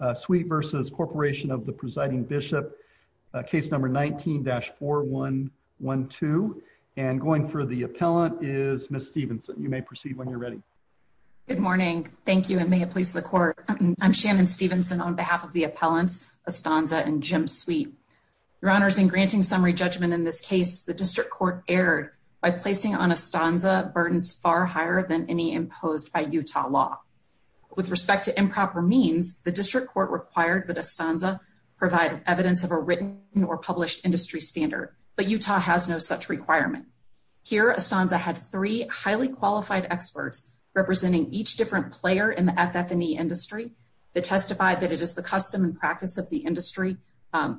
Bishop, Case No. 19-4112. And going for the appellant is Ms. Stevenson. You may proceed when you're ready. Good morning. Thank you and may it please the Court. I'm Shannon Stevenson on behalf of the appellants, Estanza and Jim Sweet. Your Honors, in granting summary judgment in this case, the District Court erred by placing on Estanza burdens far higher than any imposed by Utah law. With respect to improper means, the District Court required that Estanza provide evidence of a written or published industry standard, but Utah has no such requirement. Here, Estanza had three highly qualified experts representing each different player in the FF&E industry that testified that it is the custom and practice of the industry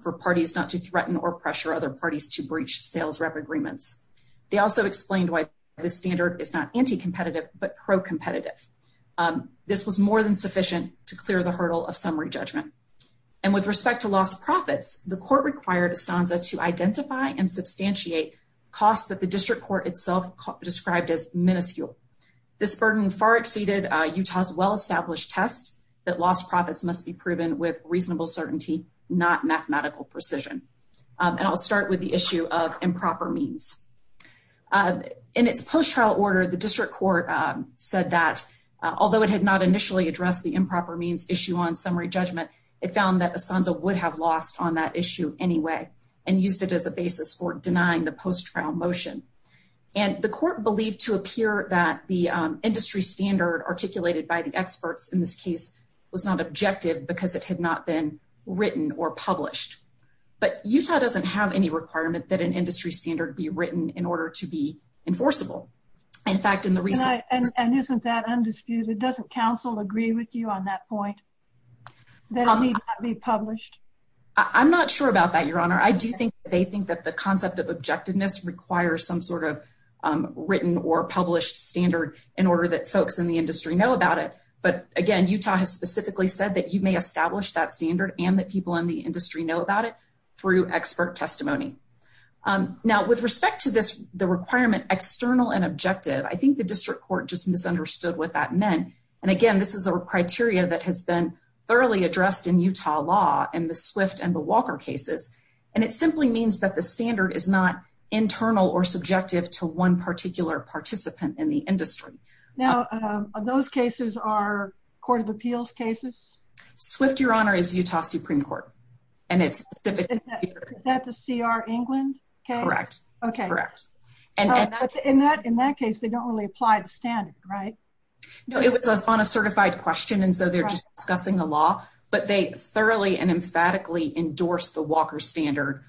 for parties not to threaten or pressure other parties to breach sales rep agreements. They also explained why this standard is not anti-competitive but pro-competitive. This was more than sufficient to clear the hurdle of summary judgment. And with respect to lost profits, the Court required Estanza to identify and substantiate costs that the District Court itself described as miniscule. This burden far exceeded Utah's well-established test that lost profits must be proven with reasonable certainty, not mathematical precision. And I'll start with the issue of improper means. In its post-trial order, the District Court said that although it had not initially addressed the improper means issue on summary judgment, it found that Estanza would have lost on that issue anyway and used it as a basis for denying the post-trial motion. And the Court believed to appear that the industry standard articulated by the experts in this case was not objective because it had not been written or published. But Utah doesn't have any requirement that an order to be enforceable. In fact, in the recent... And isn't that undisputed? Doesn't counsel agree with you on that point? That it need not be published? I'm not sure about that, Your Honor. I do think they think that the concept of objectiveness requires some sort of written or published standard in order that folks in the industry know about it. But again, Utah has specifically said that you may establish that standard and that people in the industry know about it through expert testimony. Now, with respect to the requirement, external and objective, I think the District Court just misunderstood what that meant. And again, this is a criteria that has been thoroughly addressed in Utah law in the Swift and the Walker cases. And it simply means that the standard is not internal or subjective to one particular participant in the industry. Now, those cases are Court of Appeals cases? Swift, Your Honor, is Utah Supreme Court. And it's... Is that the C.R. England case? Correct. Correct. In that case, they don't really apply the standard, right? No, it was on a certified question. And so they're just discussing the law, but they thoroughly and emphatically endorsed the Walker standard,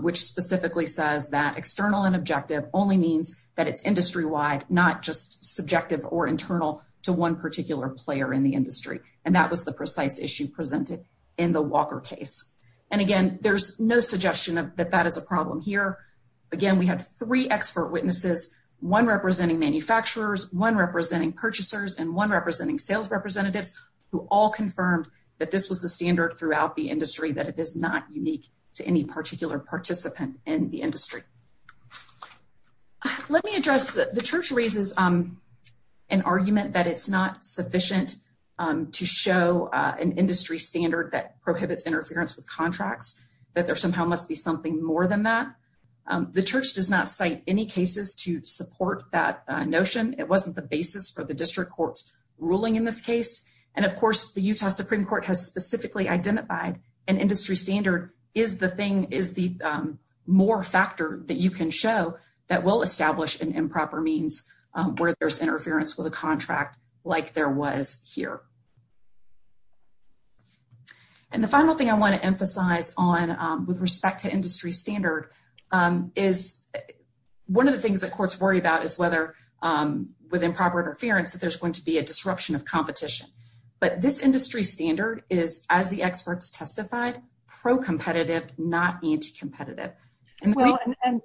which specifically says that external and objective only means that it's industry-wide, not just subjective or internal to one particular player in the industry. And that was the precise issue presented in the Walker case. And again, there's no suggestion that that is a problem here. Again, we had three expert witnesses, one representing manufacturers, one representing purchasers, and one representing sales representatives, who all confirmed that this was the standard throughout the industry, that it is not unique to any particular participant in the industry. Let me address... The Church raises an argument that it's not sufficient to show an industry standard that prohibits interference with contracts, that there somehow must be something more than that. The Church does not cite any cases to support that notion. It wasn't the basis for the district court's ruling in this case. And of course, the Utah Supreme Court has specifically identified an industry standard is the thing, is the more factor that you can show that will establish an improper means where there's interference with a contract like there was here. And the final thing I want to emphasize on with respect to industry standard is one of the things that courts worry about is whether with improper interference, that there's going to be a disruption of competition. But this industry standard is, as the experts testified, pro-competitive, not anti-competitive. Well,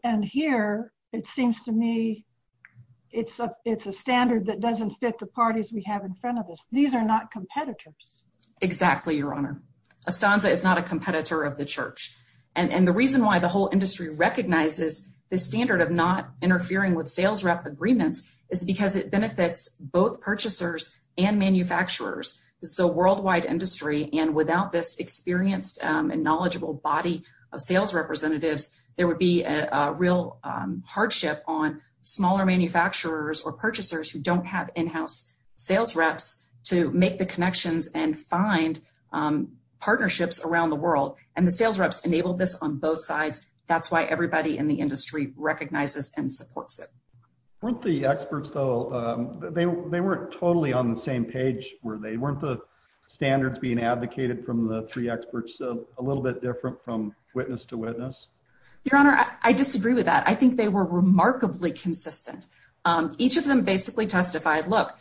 and here, it seems to me, it's a standard that doesn't fit the parties we have in front of us. These are not competitors. Exactly, Your Honor. Estanza is not a competitor of the Church. And the reason why the whole industry recognizes the standard of not interfering with sales rep agreements is because it benefits both purchasers and manufacturers. So worldwide industry, and without this experienced and knowledgeable body of sales representatives, there would be a real hardship on smaller manufacturers or purchasers who don't have in-house sales reps to make the connections and find partnerships around the world. And the sales reps enable this on both sides. That's why everybody in the industry recognizes and supports it. Weren't the experts, though, they weren't totally on the same page, were they? Weren't the standards being advocated from the three experts a little bit different from witness to witness? Your Honor, I disagree with that. I think they were remarkably consistent. Each of them basically testified, look,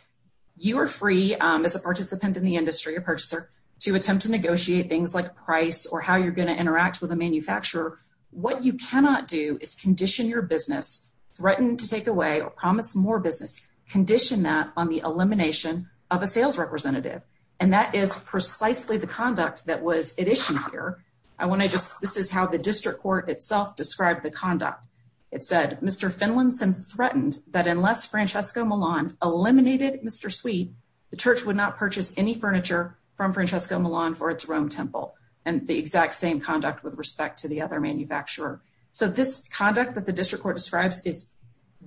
you are free as a participant in the industry, a purchaser, to attempt to negotiate things like price or how you're going to interact with a manufacturer. What you cannot do is condition your business, threaten to take away or promise more business, condition that on the elimination of a sales representative. And that is precisely the conduct that was it issued here. I want to just, this is how the district court itself described the conduct. It said, Mr. Finlinson threatened that unless Francesco Milan eliminated Mr. Sweet, the church would not purchase any furniture from Francesco Milan for its Rome temple. And the exact same conduct with respect to the other manufacturer. So this conduct that the district court describes is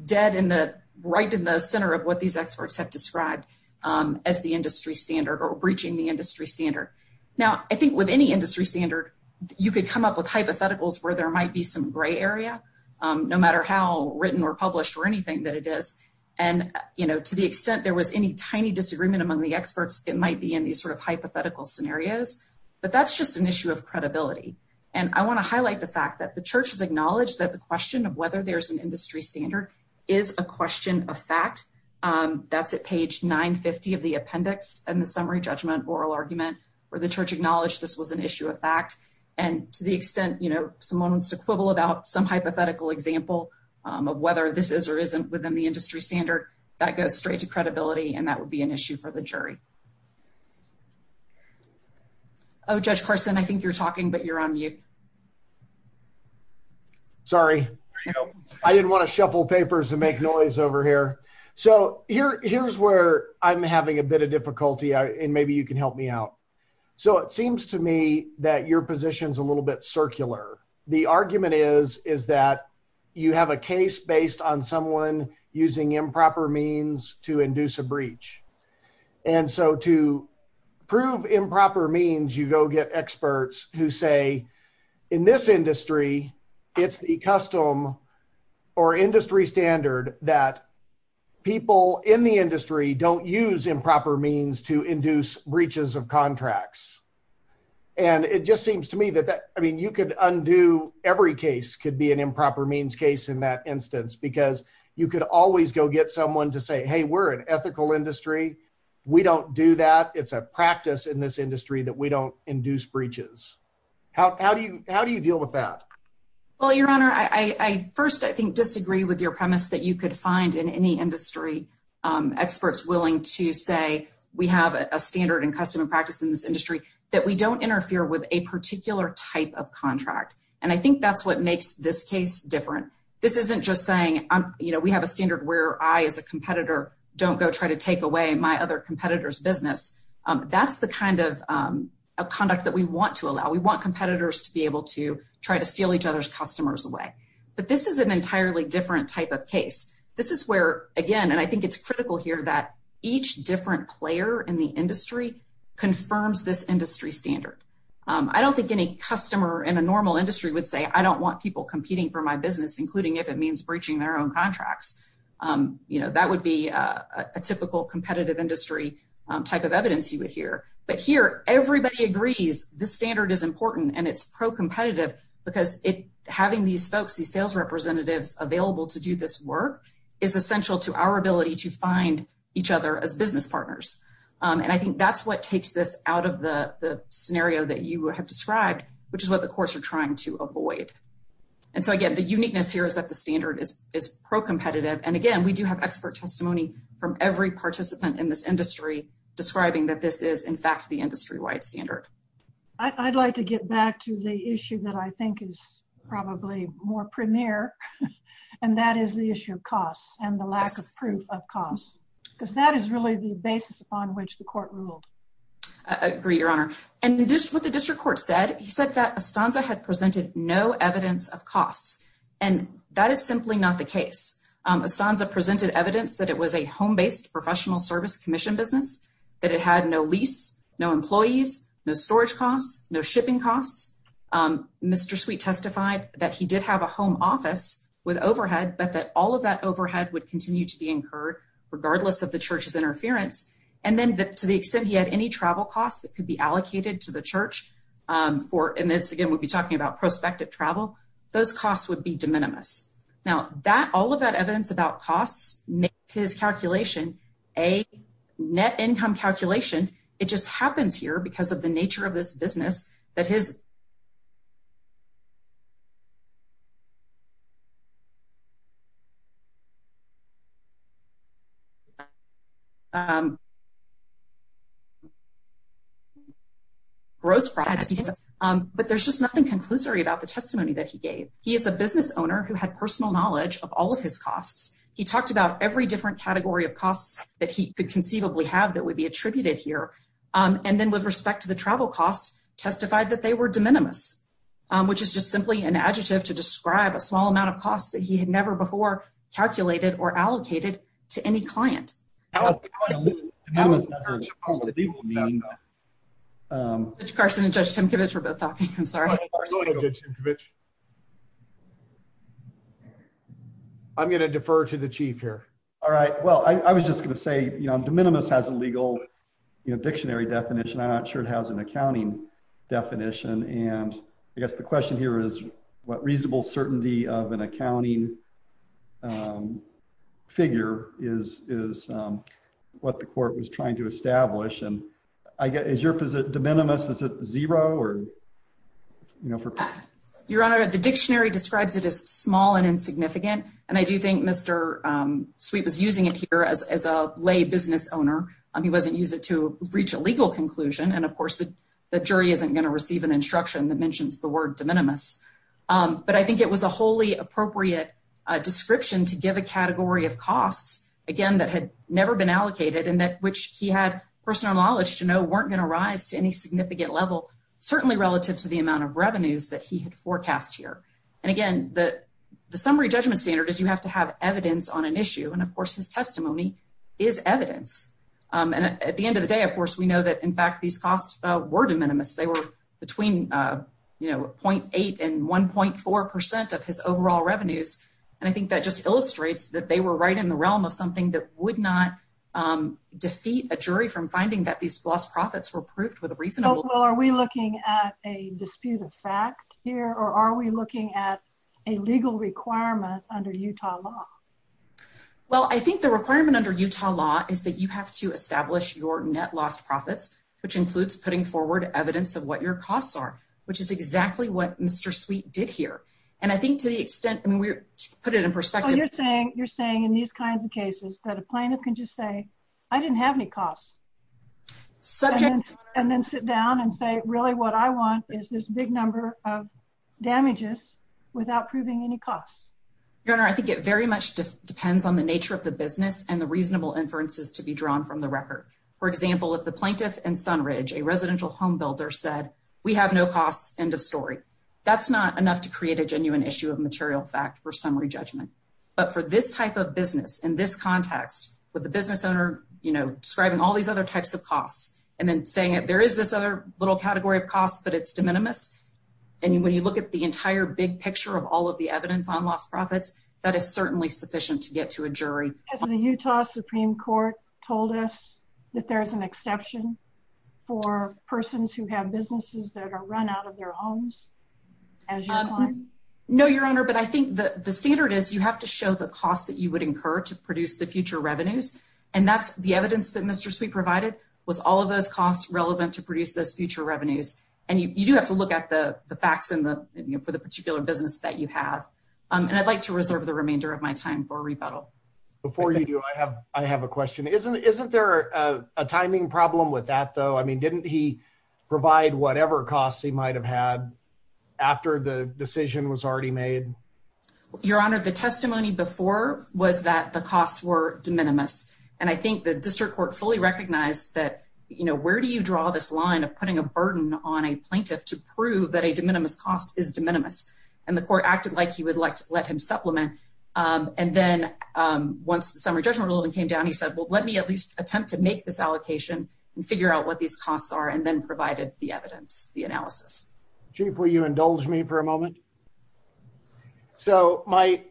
dead in the, right in the center of what these experts have described as the industry standard or breaching the industry standard. Now, I think with any industry standard, you could come up with hypotheticals where there might be some gray area, no matter how written or published or anything that it is. And to the extent there was any tiny disagreement among the experts, it might be in these sort of hypothetical scenarios. But that's just an issue of credibility. And I want to highlight the fact that the church has acknowledged that the question of whether there's an industry standard is a question of fact. That's at page 950 of the appendix and the summary judgment oral argument where the church acknowledged this was an issue of fact. And to the extent, you know, someone wants to quibble about some hypothetical example of whether this is or isn't within the industry standard that goes straight to credibility. And that would be an issue for the jury. Oh, Judge Carson, I think you're talking, but you're on mute. Sorry, I didn't want to shuffle papers and make noise over here. So, here's where I'm having a bit of difficulty, and maybe you can help me out. So, it seems to me that your position is a little bit circular. The argument is that you have a case based on someone using improper means to induce a breach. And so, to prove improper means, you go get experts who say, in this industry, it's the custom or industry standard that people in the industry don't use improper means to induce breaches of contracts. And it just seems to me that, I mean, you could undo every case could be an improper means case in that instance because you could always go get someone to say, hey, we're an ethical industry. We don't do that. It's a practice in this industry that we don't induce breaches. How do you deal with that? Well, Your Honor, I first, I think, disagree with your premise that you could find in any industry experts willing to say we have a standard and custom and practice in this industry that we don't interfere with a particular type of contract. And I think that's what makes this case different. This isn't just saying, you know, we have a standard where I, as a competitor, don't go try to take away my other competitor's business. That's the kind of conduct that we want to allow. We want competitors to be able to try to steal each other's customers away. But this is an entirely different type of case. This is where, again, and I think it's critical here that each different player in the industry confirms this industry standard. I don't think any customer in a normal industry would say, I don't want people competing for my business, including if it means breaching their own contracts. You know, that would be a typical competitive industry type of evidence you would hear. But here, everybody agrees this standard is important and it's pro-competitive because having these folks, these sales representatives available to do this work is essential to our ability to find each other as business partners. And I think that's what takes this out of the scenario that you have described, which is what the courts are trying to avoid. And so again, the uniqueness here is that the standard is pro-competitive. And again, we do have expert testimony from every participant in this industry describing that this is, in fact, the industry-wide standard. I'd like to get back to the issue that I think is probably more premier, and that is the issue of costs and the lack of proof of costs. Because that is really the basis upon which the court ruled. I agree, Your Honor. And just what the district court said, he said that Estanza had presented no evidence of costs. And that is simply not the case. Estanza presented evidence that it was a home-based professional service commission business, that it had no lease, no employees, no storage costs, no shipping costs. Mr. Sweet testified that he did have a home office with overhead, but that all of that overhead would continue to be incurred, regardless of the church's interference. And then to the extent he had any travel costs that could be allocated to the church for, and this again, we'll be talking about prospective travel, those costs would be de minimis. Now, all of that evidence about costs makes his calculation a net income calculation. It just happens here because of the nature of this business that his gross products, but there's just nothing conclusory about the testimony that he gave. He is a business owner who had personal knowledge of all of his costs. He talked about every different category of costs that he could conceivably have that would be attributed here. And then with respect to the travel costs, testified that they were de minimis, which is just simply an adjective to describe a small amount of costs that he had never before calculated or allocated to any client. I'm going to defer to the chief here. All right. Well, I was just going to say, you know, de minimis has a legal dictionary definition. I'm not sure it has an accounting definition. And I guess the question here is what reasonable certainty of an accounting figure is what the court was trying to establish. And I guess, is your position de minimis? Is it zero or, you know, for? Your Honor, the dictionary describes it as small and insignificant. And I do think Mr. Sweet was using it here as a lay business owner. He wasn't using it to reach a legal conclusion. And of course, the jury isn't going to receive an instruction that mentions the word de minimis. But I think it was a wholly appropriate description to give a category of costs, again, that had never been allocated and that which he had personal knowledge to know weren't going to rise to any significant level, certainly relative to the amount of revenues that he had forecast here. And again, the summary judgment standard is you have to have evidence on an issue. And of course, his testimony is evidence. And at the end of the day, of course, we know that, in fact, these costs were de minimis. They were between, you know, 0.8 and 1.4% of his overall revenues. And I think that just illustrates that they were right in the realm of something that would not defeat a jury from finding that these lost profits were proved with a reasonable- Well, are we looking at a dispute of fact here, or are we looking at a legal requirement under Utah law? Well, I think the requirement under Utah law is that you have to establish your net lost profits, which includes putting forward evidence of what your costs are, which is exactly what Mr. Sweet did here. And I think to the extent, I mean, to put it in perspective- Well, you're saying in these kinds of cases that a plaintiff can just say, I didn't have any costs. And then sit down and say, really, what I want is this big number of damages without proving any costs. Your Honor, I think it very much depends on the nature of the business and the reasonable inferences to be drawn from the record. For example, if the plaintiff and Sunridge, a residential home builder, said, we have no costs, end of story, that's not enough to create a genuine issue of material fact for summary judgment. But for this type of business, in this context, with the business owner describing all these other types of costs, and then saying that there is this other little category of costs, but it's de minimis. And when you look at the entire big picture of all of the evidence on lost profits, that is certainly sufficient to get to a jury. Has the Utah Supreme Court told us that there's an exception for persons who have businesses that are run out of their homes? As your client? No, Your Honor, but I think the standard is you have to show the costs that you would incur to produce the future revenues. And that's the evidence that Mr. Sweet provided was all of those costs relevant to produce those future revenues. And you do have to look at the facts for the particular business that you have. And I'd like to reserve the remainder of my time for rebuttal. Before you do, I have a question. Isn't there a timing problem with that though? I mean, didn't he provide whatever costs he might have had after the decision was already made? Your Honor, the testimony before was that the costs were de minimis. And I think the district court fully recognized that, you know, where do you draw this line of putting a burden on a plaintiff to prove that a de minimis cost is de minimis? And the court acted like he would like to let him supplement. And then once the summary judgment ruling came down, he said, well, let me at least attempt to make this allocation and figure out what these costs are and then provided the evidence, the analysis. Chief, will you indulge me for a moment? So my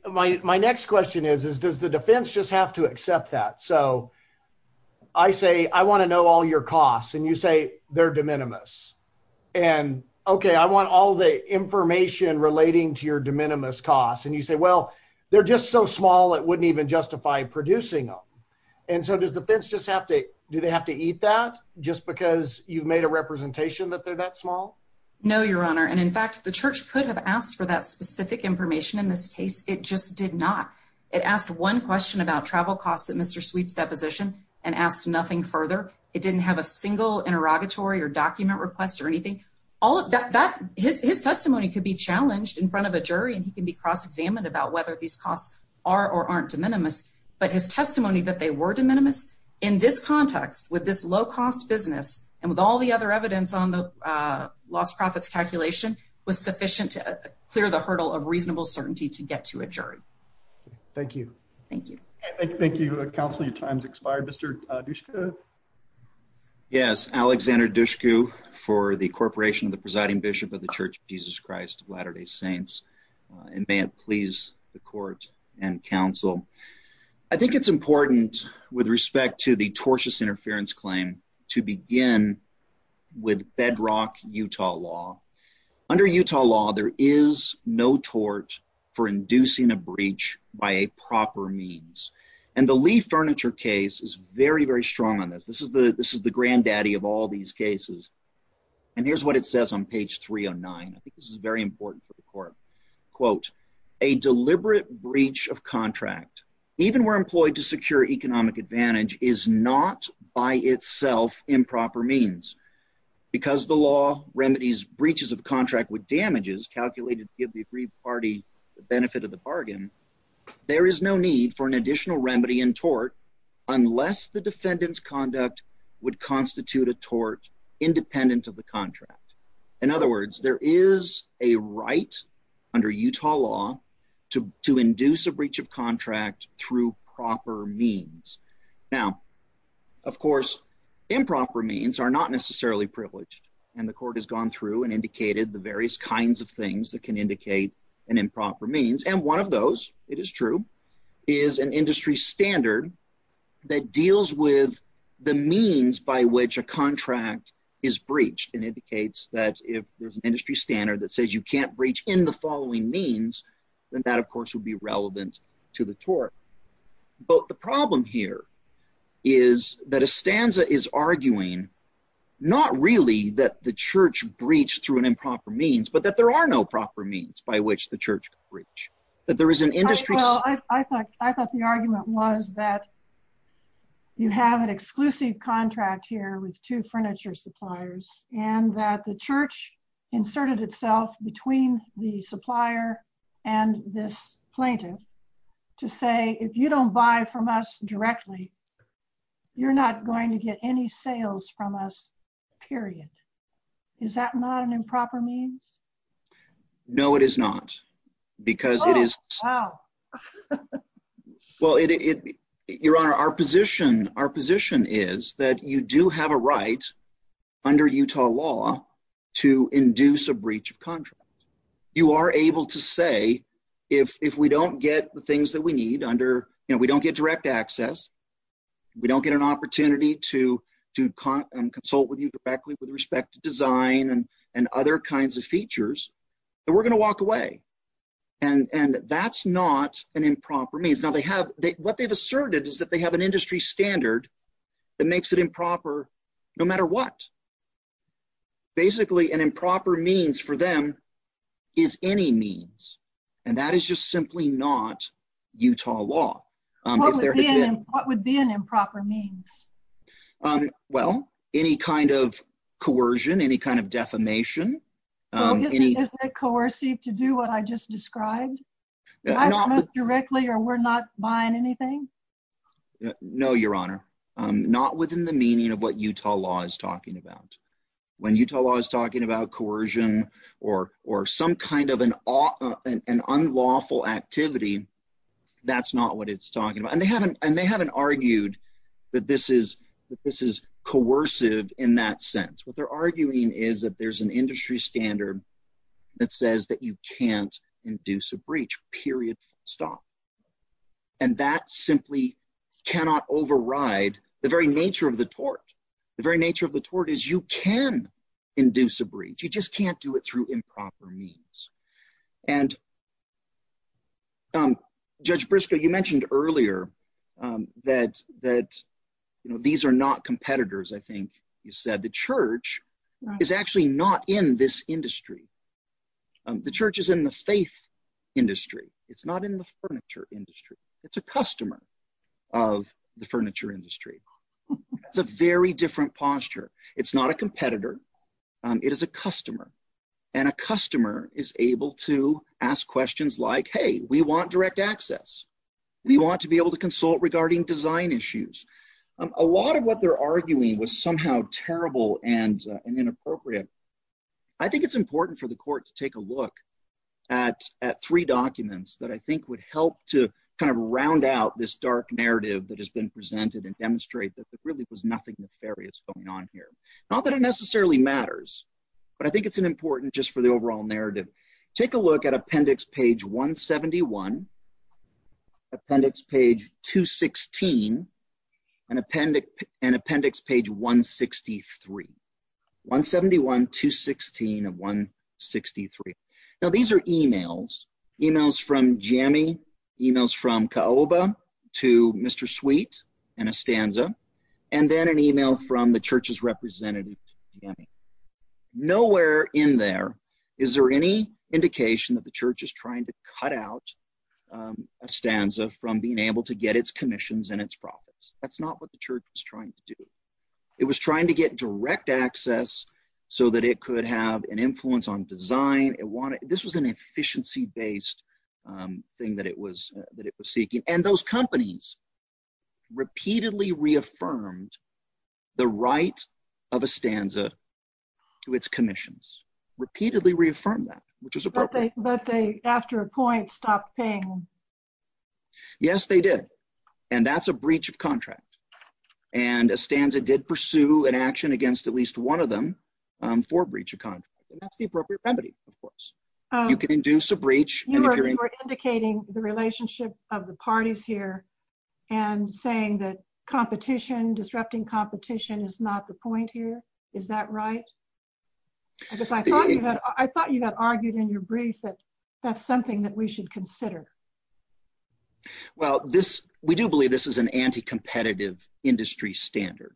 next question is, is does the defense just have to accept that? So I say, I want to know all your costs and you say they're de minimis. And okay, I want all the information relating to your de minimis costs. And you say, well, they're just so small it wouldn't even justify producing them. And so does the defense just have to, do they have to eat that just because you've made a representation that they're that small? No, Your Honor. And in fact, the church could have asked for that specific information in this case. It just did not. It asked one question about travel costs at Mr. Sweet's deposition and asked nothing further. It didn't have a single interrogatory or document request or anything. All of that, his testimony could be challenged in front of a jury and he can be cross-examined about whether these costs are or aren't de minimis. But his testimony that they were de minimis in this context with this low cost business and with all the other evidence on the lost profits calculation was sufficient to clear the hurdle of reasonable certainty to get to a jury. Thank you. Thank you. Thank you, counsel. Your time's expired. Mr. Dushku. Yes, Alexander Dushku for the Corporation of the Presiding Bishop of the Church of Jesus Christ of Latter-day Saints. And may it please the court and counsel. I think it's important with respect to the tortious interference claim to begin with bedrock Utah law. Under Utah law, there is no tort for inducing a breach by a proper means. And the Lee Furniture case is very, very strong on this. This is the granddaddy of all these cases. And here's what it says on page 309. I think this is very important for the court. Quote, a deliberate breach of contract, even we're employed to secure economic advantage is not by itself improper means. Because the law remedies breaches of contract with damages calculated to give the agreed party the benefit of the bargain, there is no need for an additional remedy in tort unless the defendant's conduct would constitute a tort independent of the contract. In other words, there is a right under Utah law to induce a breach of contract through proper means. Now, of course, improper means are not necessarily privileged. And the court has gone through and indicated the various kinds of things that can indicate an improper means. And one of those, it is true, is an industry standard that deals with the means by which a contract is breached and indicates that if there's an industry standard that says you can't breach in the following means, then that of course would be relevant to the tort. But the problem here is that a stanza is arguing not really that the church breached through an improper means, but that there are no proper means by which the church could breach. That there is an industry- Well, I thought the argument was that you have an exclusive contract here with two furniture suppliers and that the church inserted itself between the supplier and this plaintiff to say if you don't buy from us directly, you're not going to get any sales from us, period. Is that not an improper means? No, it is not because it is- Oh, wow. Well, Your Honor, our position is that you do have a right under Utah law to induce a breach of contract. You are able to say if we don't get the things that we need under, we don't get direct access, we don't get an opportunity to consult with you directly with respect to design and other kinds of features, then we're going to walk away. And that's not an improper means. Now, what they've asserted is that they have an industry standard that makes it improper no matter what. Basically, an improper means for them is any means. And that is just simply not Utah law. What would be an improper means? Well, any kind of coercion, any kind of defamation. Isn't it coercive to do what I just described? Buy from us directly or we're not buying anything? No, Your Honor. Not within the meaning of what Utah law is talking about. When Utah law is talking about coercion or some kind of an unlawful activity, that's not what it's talking about. And they haven't argued that this is coercive in that sense. What they're arguing is that there's an industry standard that says that you can't induce a breach, period, stop. And that simply cannot override the very nature of the tort. The very nature of the tort is you can induce a breach. You just can't do it through improper means. And Judge Briscoe, you mentioned earlier that these are not competitors, I think you said. The church is actually not in this industry. The church is in the faith industry. It's not in the furniture industry. It's a customer of the furniture industry. It's a very different posture. It's not a competitor. It is a customer. And a customer is able to ask questions like, hey, we want direct access. We want to be able to consult regarding design issues. A lot of what they're arguing was somehow terrible and inappropriate. I think it's important for the court to take a look at three documents that I think would help to kind of round out this dark narrative that has been presented and demonstrate that there really was nothing nefarious going on here. Not that it necessarily matters, but I think it's important just for the overall narrative. Take a look at Appendix Page 171, Appendix Page 216, and Appendix Page 163. 171, 216, and 163. Now, these are emails. Emails from JAMI, emails from CAOBA to Mr. Sweet and Estanza, and then an email from the church's representative to JAMI. Nowhere in there is there any indication that the church is trying to cut out Estanza from being able to get its commissions and its profits. That's not what the church was trying to do. It was trying to get direct access so that it could have an influence on design. This was an efficiency-based thing that it was seeking. And those companies repeatedly reaffirmed the right of Estanza to its commissions. Repeatedly reaffirmed that, which is appropriate. But they, after a point, stopped paying. Yes, they did. And that's a breach of contract. And Estanza did pursue an action against at least one of them for breach of contract. That's the appropriate remedy, of course. You can induce a breach. You are indicating the relationship of the parties here and saying that competition, disrupting competition, is not the point here. Is that right? Because I thought you had argued in your brief that that's something that we should consider. Well, we do believe this is an anti-competitive industry standard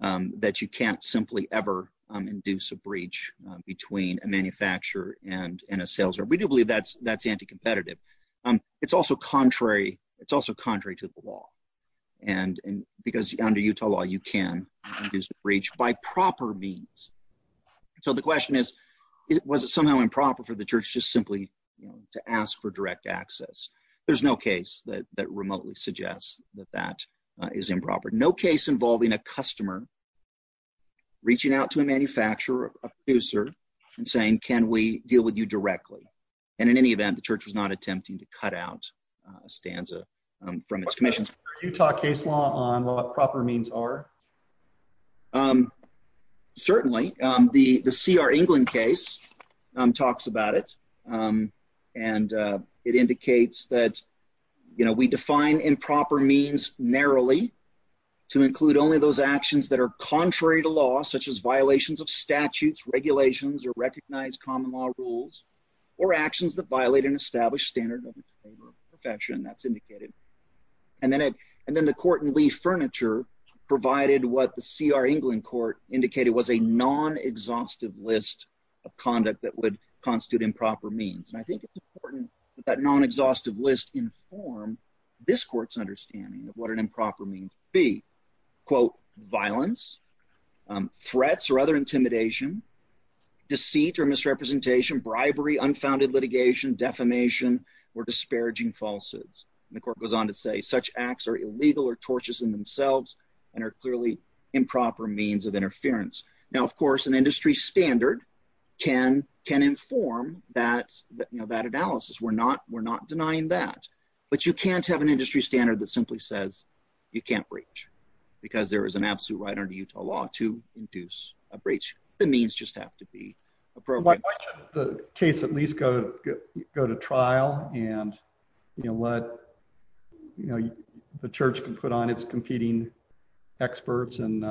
that you can't simply ever induce a breach between a manufacturer and a sales rep. We do believe that's anti-competitive. It's also contrary to the law. Because under Utah law, you can induce a breach by proper means. So the question is, was it somehow improper for the church just simply to ask for direct access? There's no case that remotely suggests that that is improper. No case involving a customer reaching out to a manufacturer, a producer, and saying, can we deal with you directly? And in any event, the church was not attempting to cut out a stanza from its commission. Utah case law on what proper means are? Certainly. The C.R. England case talks about it. And it indicates that we define improper means narrowly to include only those actions that are contrary to law, such as violations of statutes, regulations, or recognized common law rules, or actions that violate an established standard of its favor perfection. That's indicated. And then the court in Lee Furniture provided what the C.R. England court indicated was a non-exhaustive list of conduct that would constitute improper means. And I think it's important that non-exhaustive list inform this court's understanding of what an improper means be. Quote, violence, threats, or other intimidation, deceit or misrepresentation, bribery, unfounded litigation, defamation, or disparaging falses. And the court goes on to say, such acts are illegal or tortious in themselves and are clearly improper means of interference. Now, of course, an industry standard can inform that analysis. We're not denying that. But you can't have an industry standard because there is an absolute right under Utah law to induce a breach. The means just have to be appropriate. Why should the case at least go to trial and let the church can put on its competing experts and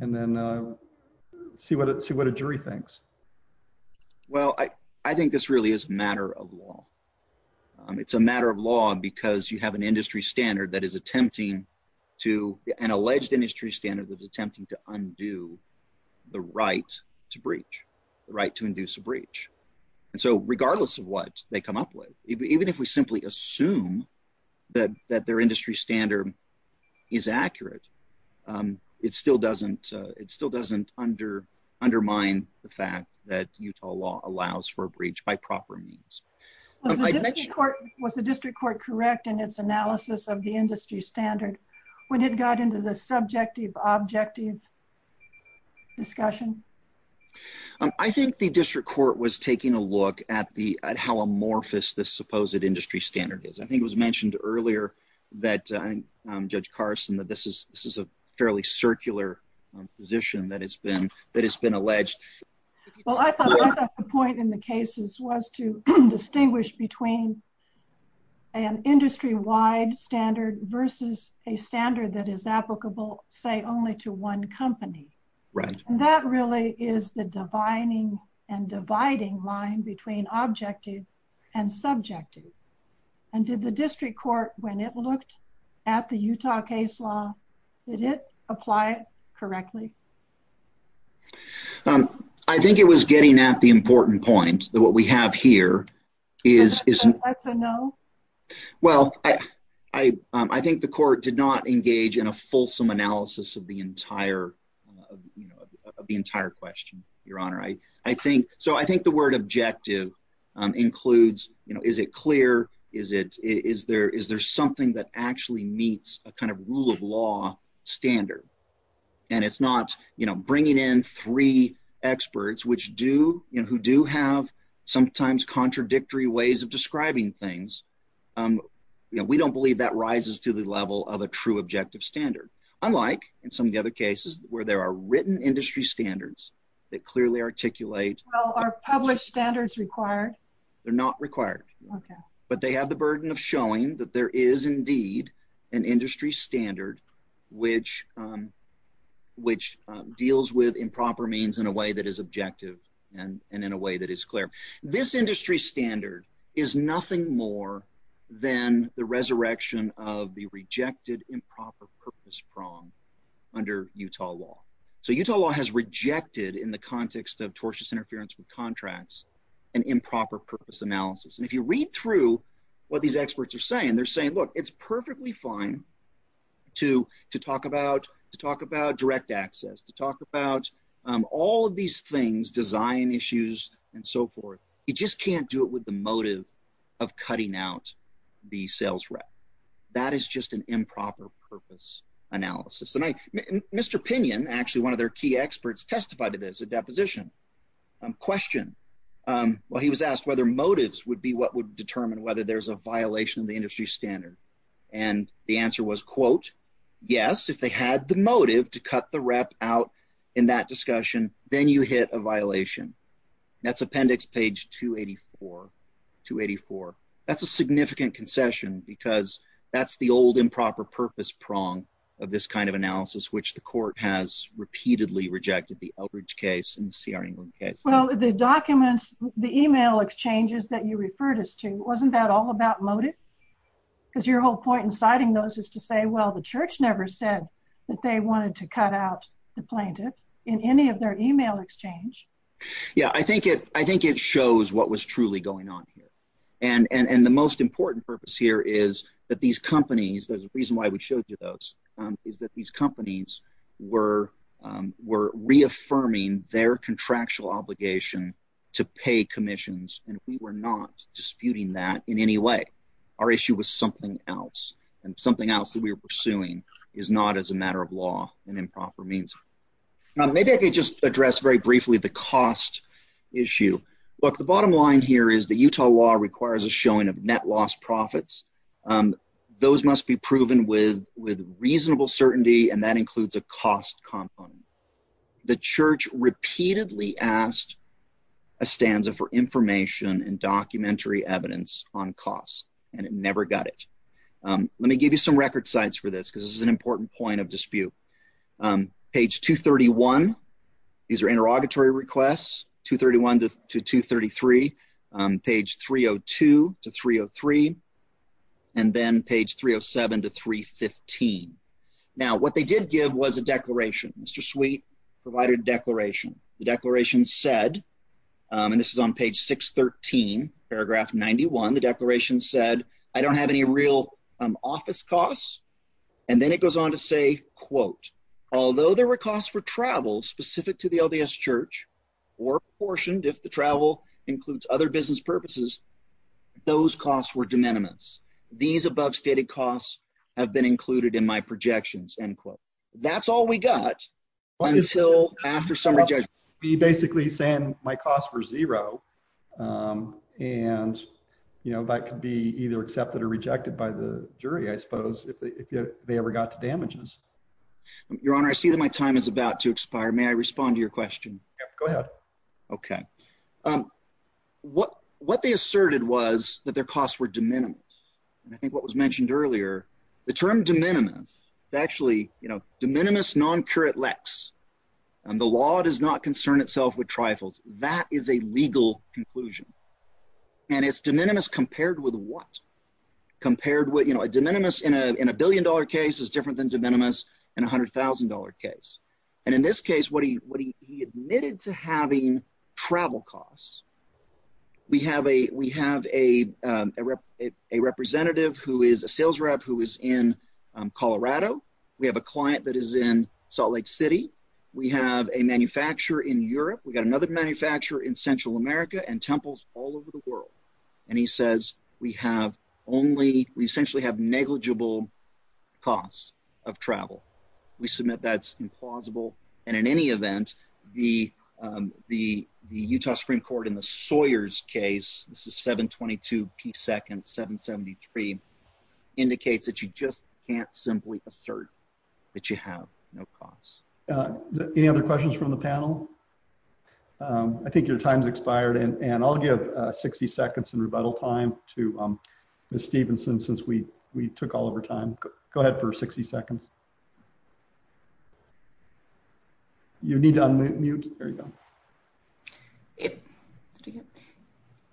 then see what a jury thinks? Well, I think this really is a matter of law. It's a matter of law because you have an industry standard that is attempting to, an alleged industry standard attempting to undo the right to breach, the right to induce a breach. And so regardless of what they come up with, even if we simply assume that their industry standard is accurate, it still doesn't undermine the fact that Utah law allows for a breach by proper means. Was the district court correct in its analysis of the industry standard when it got into the subjective objective discussion? I think the district court was taking a look at how amorphous this supposed industry standard is. I think it was mentioned earlier that, Judge Carson, that this is a fairly circular position that has been alleged. Well, I thought the point in the cases was to distinguish between an industry-wide standard versus a standard that is applicable, say, only to one company. And that really is the divining and dividing line between objective and subjective. And did the district court, when it looked at the Utah case law, did it apply it correctly? I think it was getting at the important point that what we have here is- Is that a no? Well, I think the court did not engage in a fulsome analysis of the entire question, Your Honor. So I think the word objective includes, is it clear? Is there something that actually meets a kind of rule of law standard? And it's not bringing in three experts who do have sometimes contradictory ways of describing things. We don't believe that rises to the level of a true objective standard, unlike in some of the other cases where there are written industry standards that clearly articulate- Well, are published standards required? They're not required. But they have the burden of showing that there is indeed an industry standard which deals with improper means in a way that is objective and in a way that is clear. This industry standard is nothing more than the resurrection of the rejected improper purpose prong under Utah law. So Utah law has rejected, in the context of tortious interference with contracts, an improper purpose analysis. And if you read through what these experts are saying, they're saying, look, it's perfectly fine to talk about direct access, to talk about all of these things, design issues and so forth. You just can't do it with the motive of cutting out the sales rep. That is just an improper purpose analysis. Mr. Pinion, actually one of their key experts, testified to this, a deposition question. Well, he was asked whether motives would be what would determine whether there's a violation of the industry standard. And the answer was, quote, yes, if they had the motive to cut the rep out in that discussion, then you hit a violation. That's appendix page 284, 284. That's a significant concession because that's the old improper purpose prong of this kind of analysis, which the court has repeatedly rejected the Eldridge case and the C.R. England case. Well, the documents, the email exchanges that you referred us to, wasn't that all about motive? Because your whole point in citing those is to say, well, the church never said that they wanted to cut out the plaintiff in any of their email exchange. Yeah, I think it shows what was truly going on here. And the most important purpose here is that these companies, there's a reason why we showed you those, is that these companies were reaffirming their contractual obligation to pay commissions. And we were not disputing that in any way. Our issue was something else. And something else that we were pursuing is not as a matter of law and improper means. Maybe I could just address very briefly the cost issue. Look, the bottom line here is the Utah law requires a showing of net loss profits. Those must be proven with reasonable certainty, and that includes a cost component. The church repeatedly asked a stanza for information and documentary evidence on costs, and it never got it. Let me give you some record sites for this because this is an important point of dispute. On page 231, these are interrogatory requests, 231 to 233, page 302 to 303, and then page 307 to 315. Now, what they did give was a declaration. Mr. Sweet provided a declaration. The declaration said, and this is on page 613, paragraph 91, the declaration said, I don't have any real office costs. And then it goes on to say, quote, although there were costs for travel specific to the LDS church or apportioned if the travel includes other business purposes, those costs were de minimis. These above stated costs have been included in my projections, end quote. That's all we got until after some rejection. We're basically saying my costs were zero, and that could be either accepted or rejected by the jury, I suppose, if they ever got to damages. Your Honor, I see that my time is about to expire. May I respond to your question? Yeah, go ahead. Okay. What they asserted was that their costs were de minimis. And I think what was mentioned earlier, the term de minimis is actually, you know, de minimis non curat lex. And the law does not concern itself with trifles. That is a legal conclusion. And it's de minimis compared with what? Compared with, you know, a de minimis in a billion dollar case is different than de minimis in $100,000 case. And in this case, what he admitted to having travel costs. We have a representative who is a sales rep who is in Colorado. We have a client that is in Salt Lake City. We have a manufacturer in Europe. We got another manufacturer in Central America and temples all over the world. And he says, we have only, we essentially have negligible costs of travel. We submit that's implausible. And in any event, the Utah Supreme Court in the Sawyers case, this is 722 P second 773 indicates that you just can't simply assert that you have no costs. Any other questions from the panel? I think your time's expired. And I'll give 60 seconds in rebuttal time to Ms. Stevenson since we took all of our time. Go ahead for 60 seconds. You need to unmute. There you go.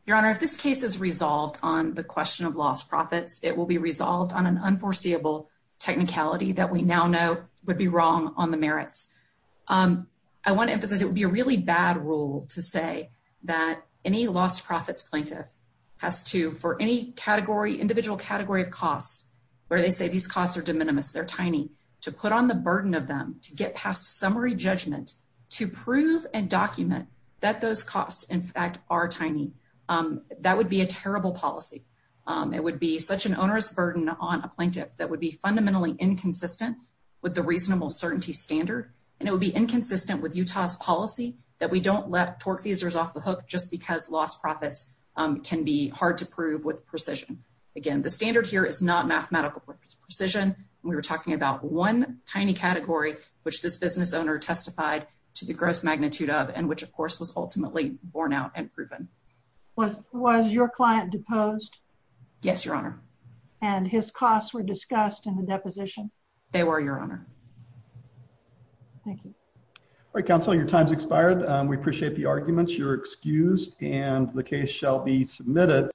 Your Honor, if this case is resolved on the question of lost profits, it will be resolved on an unforeseeable technicality that we now know would be wrong on the merits. I want to emphasize it would be a really bad rule to say that any lost profits plaintiff has to, for any category, individual category of costs, where they say these costs are de minimis, they're tiny, to put on the burden of them to get past summary judgment, to prove and document that those costs in fact are tiny. That would be a terrible policy. It would be such an onerous burden on a plaintiff that would be fundamentally inconsistent with the reasonable certainty standard. And it would be inconsistent with Utah's policy that we don't let tortfeasors off the hook just because lost profits can be hard to prove with precision. Again, the standard here is not mathematical precision. We were talking about one tiny category, which this business owner testified to the gross magnitude of, and which of course was ultimately borne out and proven. Was your client deposed? Yes, Your Honor. And his costs were discussed in the deposition? They were, Your Honor. Thank you. All right, counsel, your time's expired. We appreciate the arguments. You're excused and the case shall be submitted.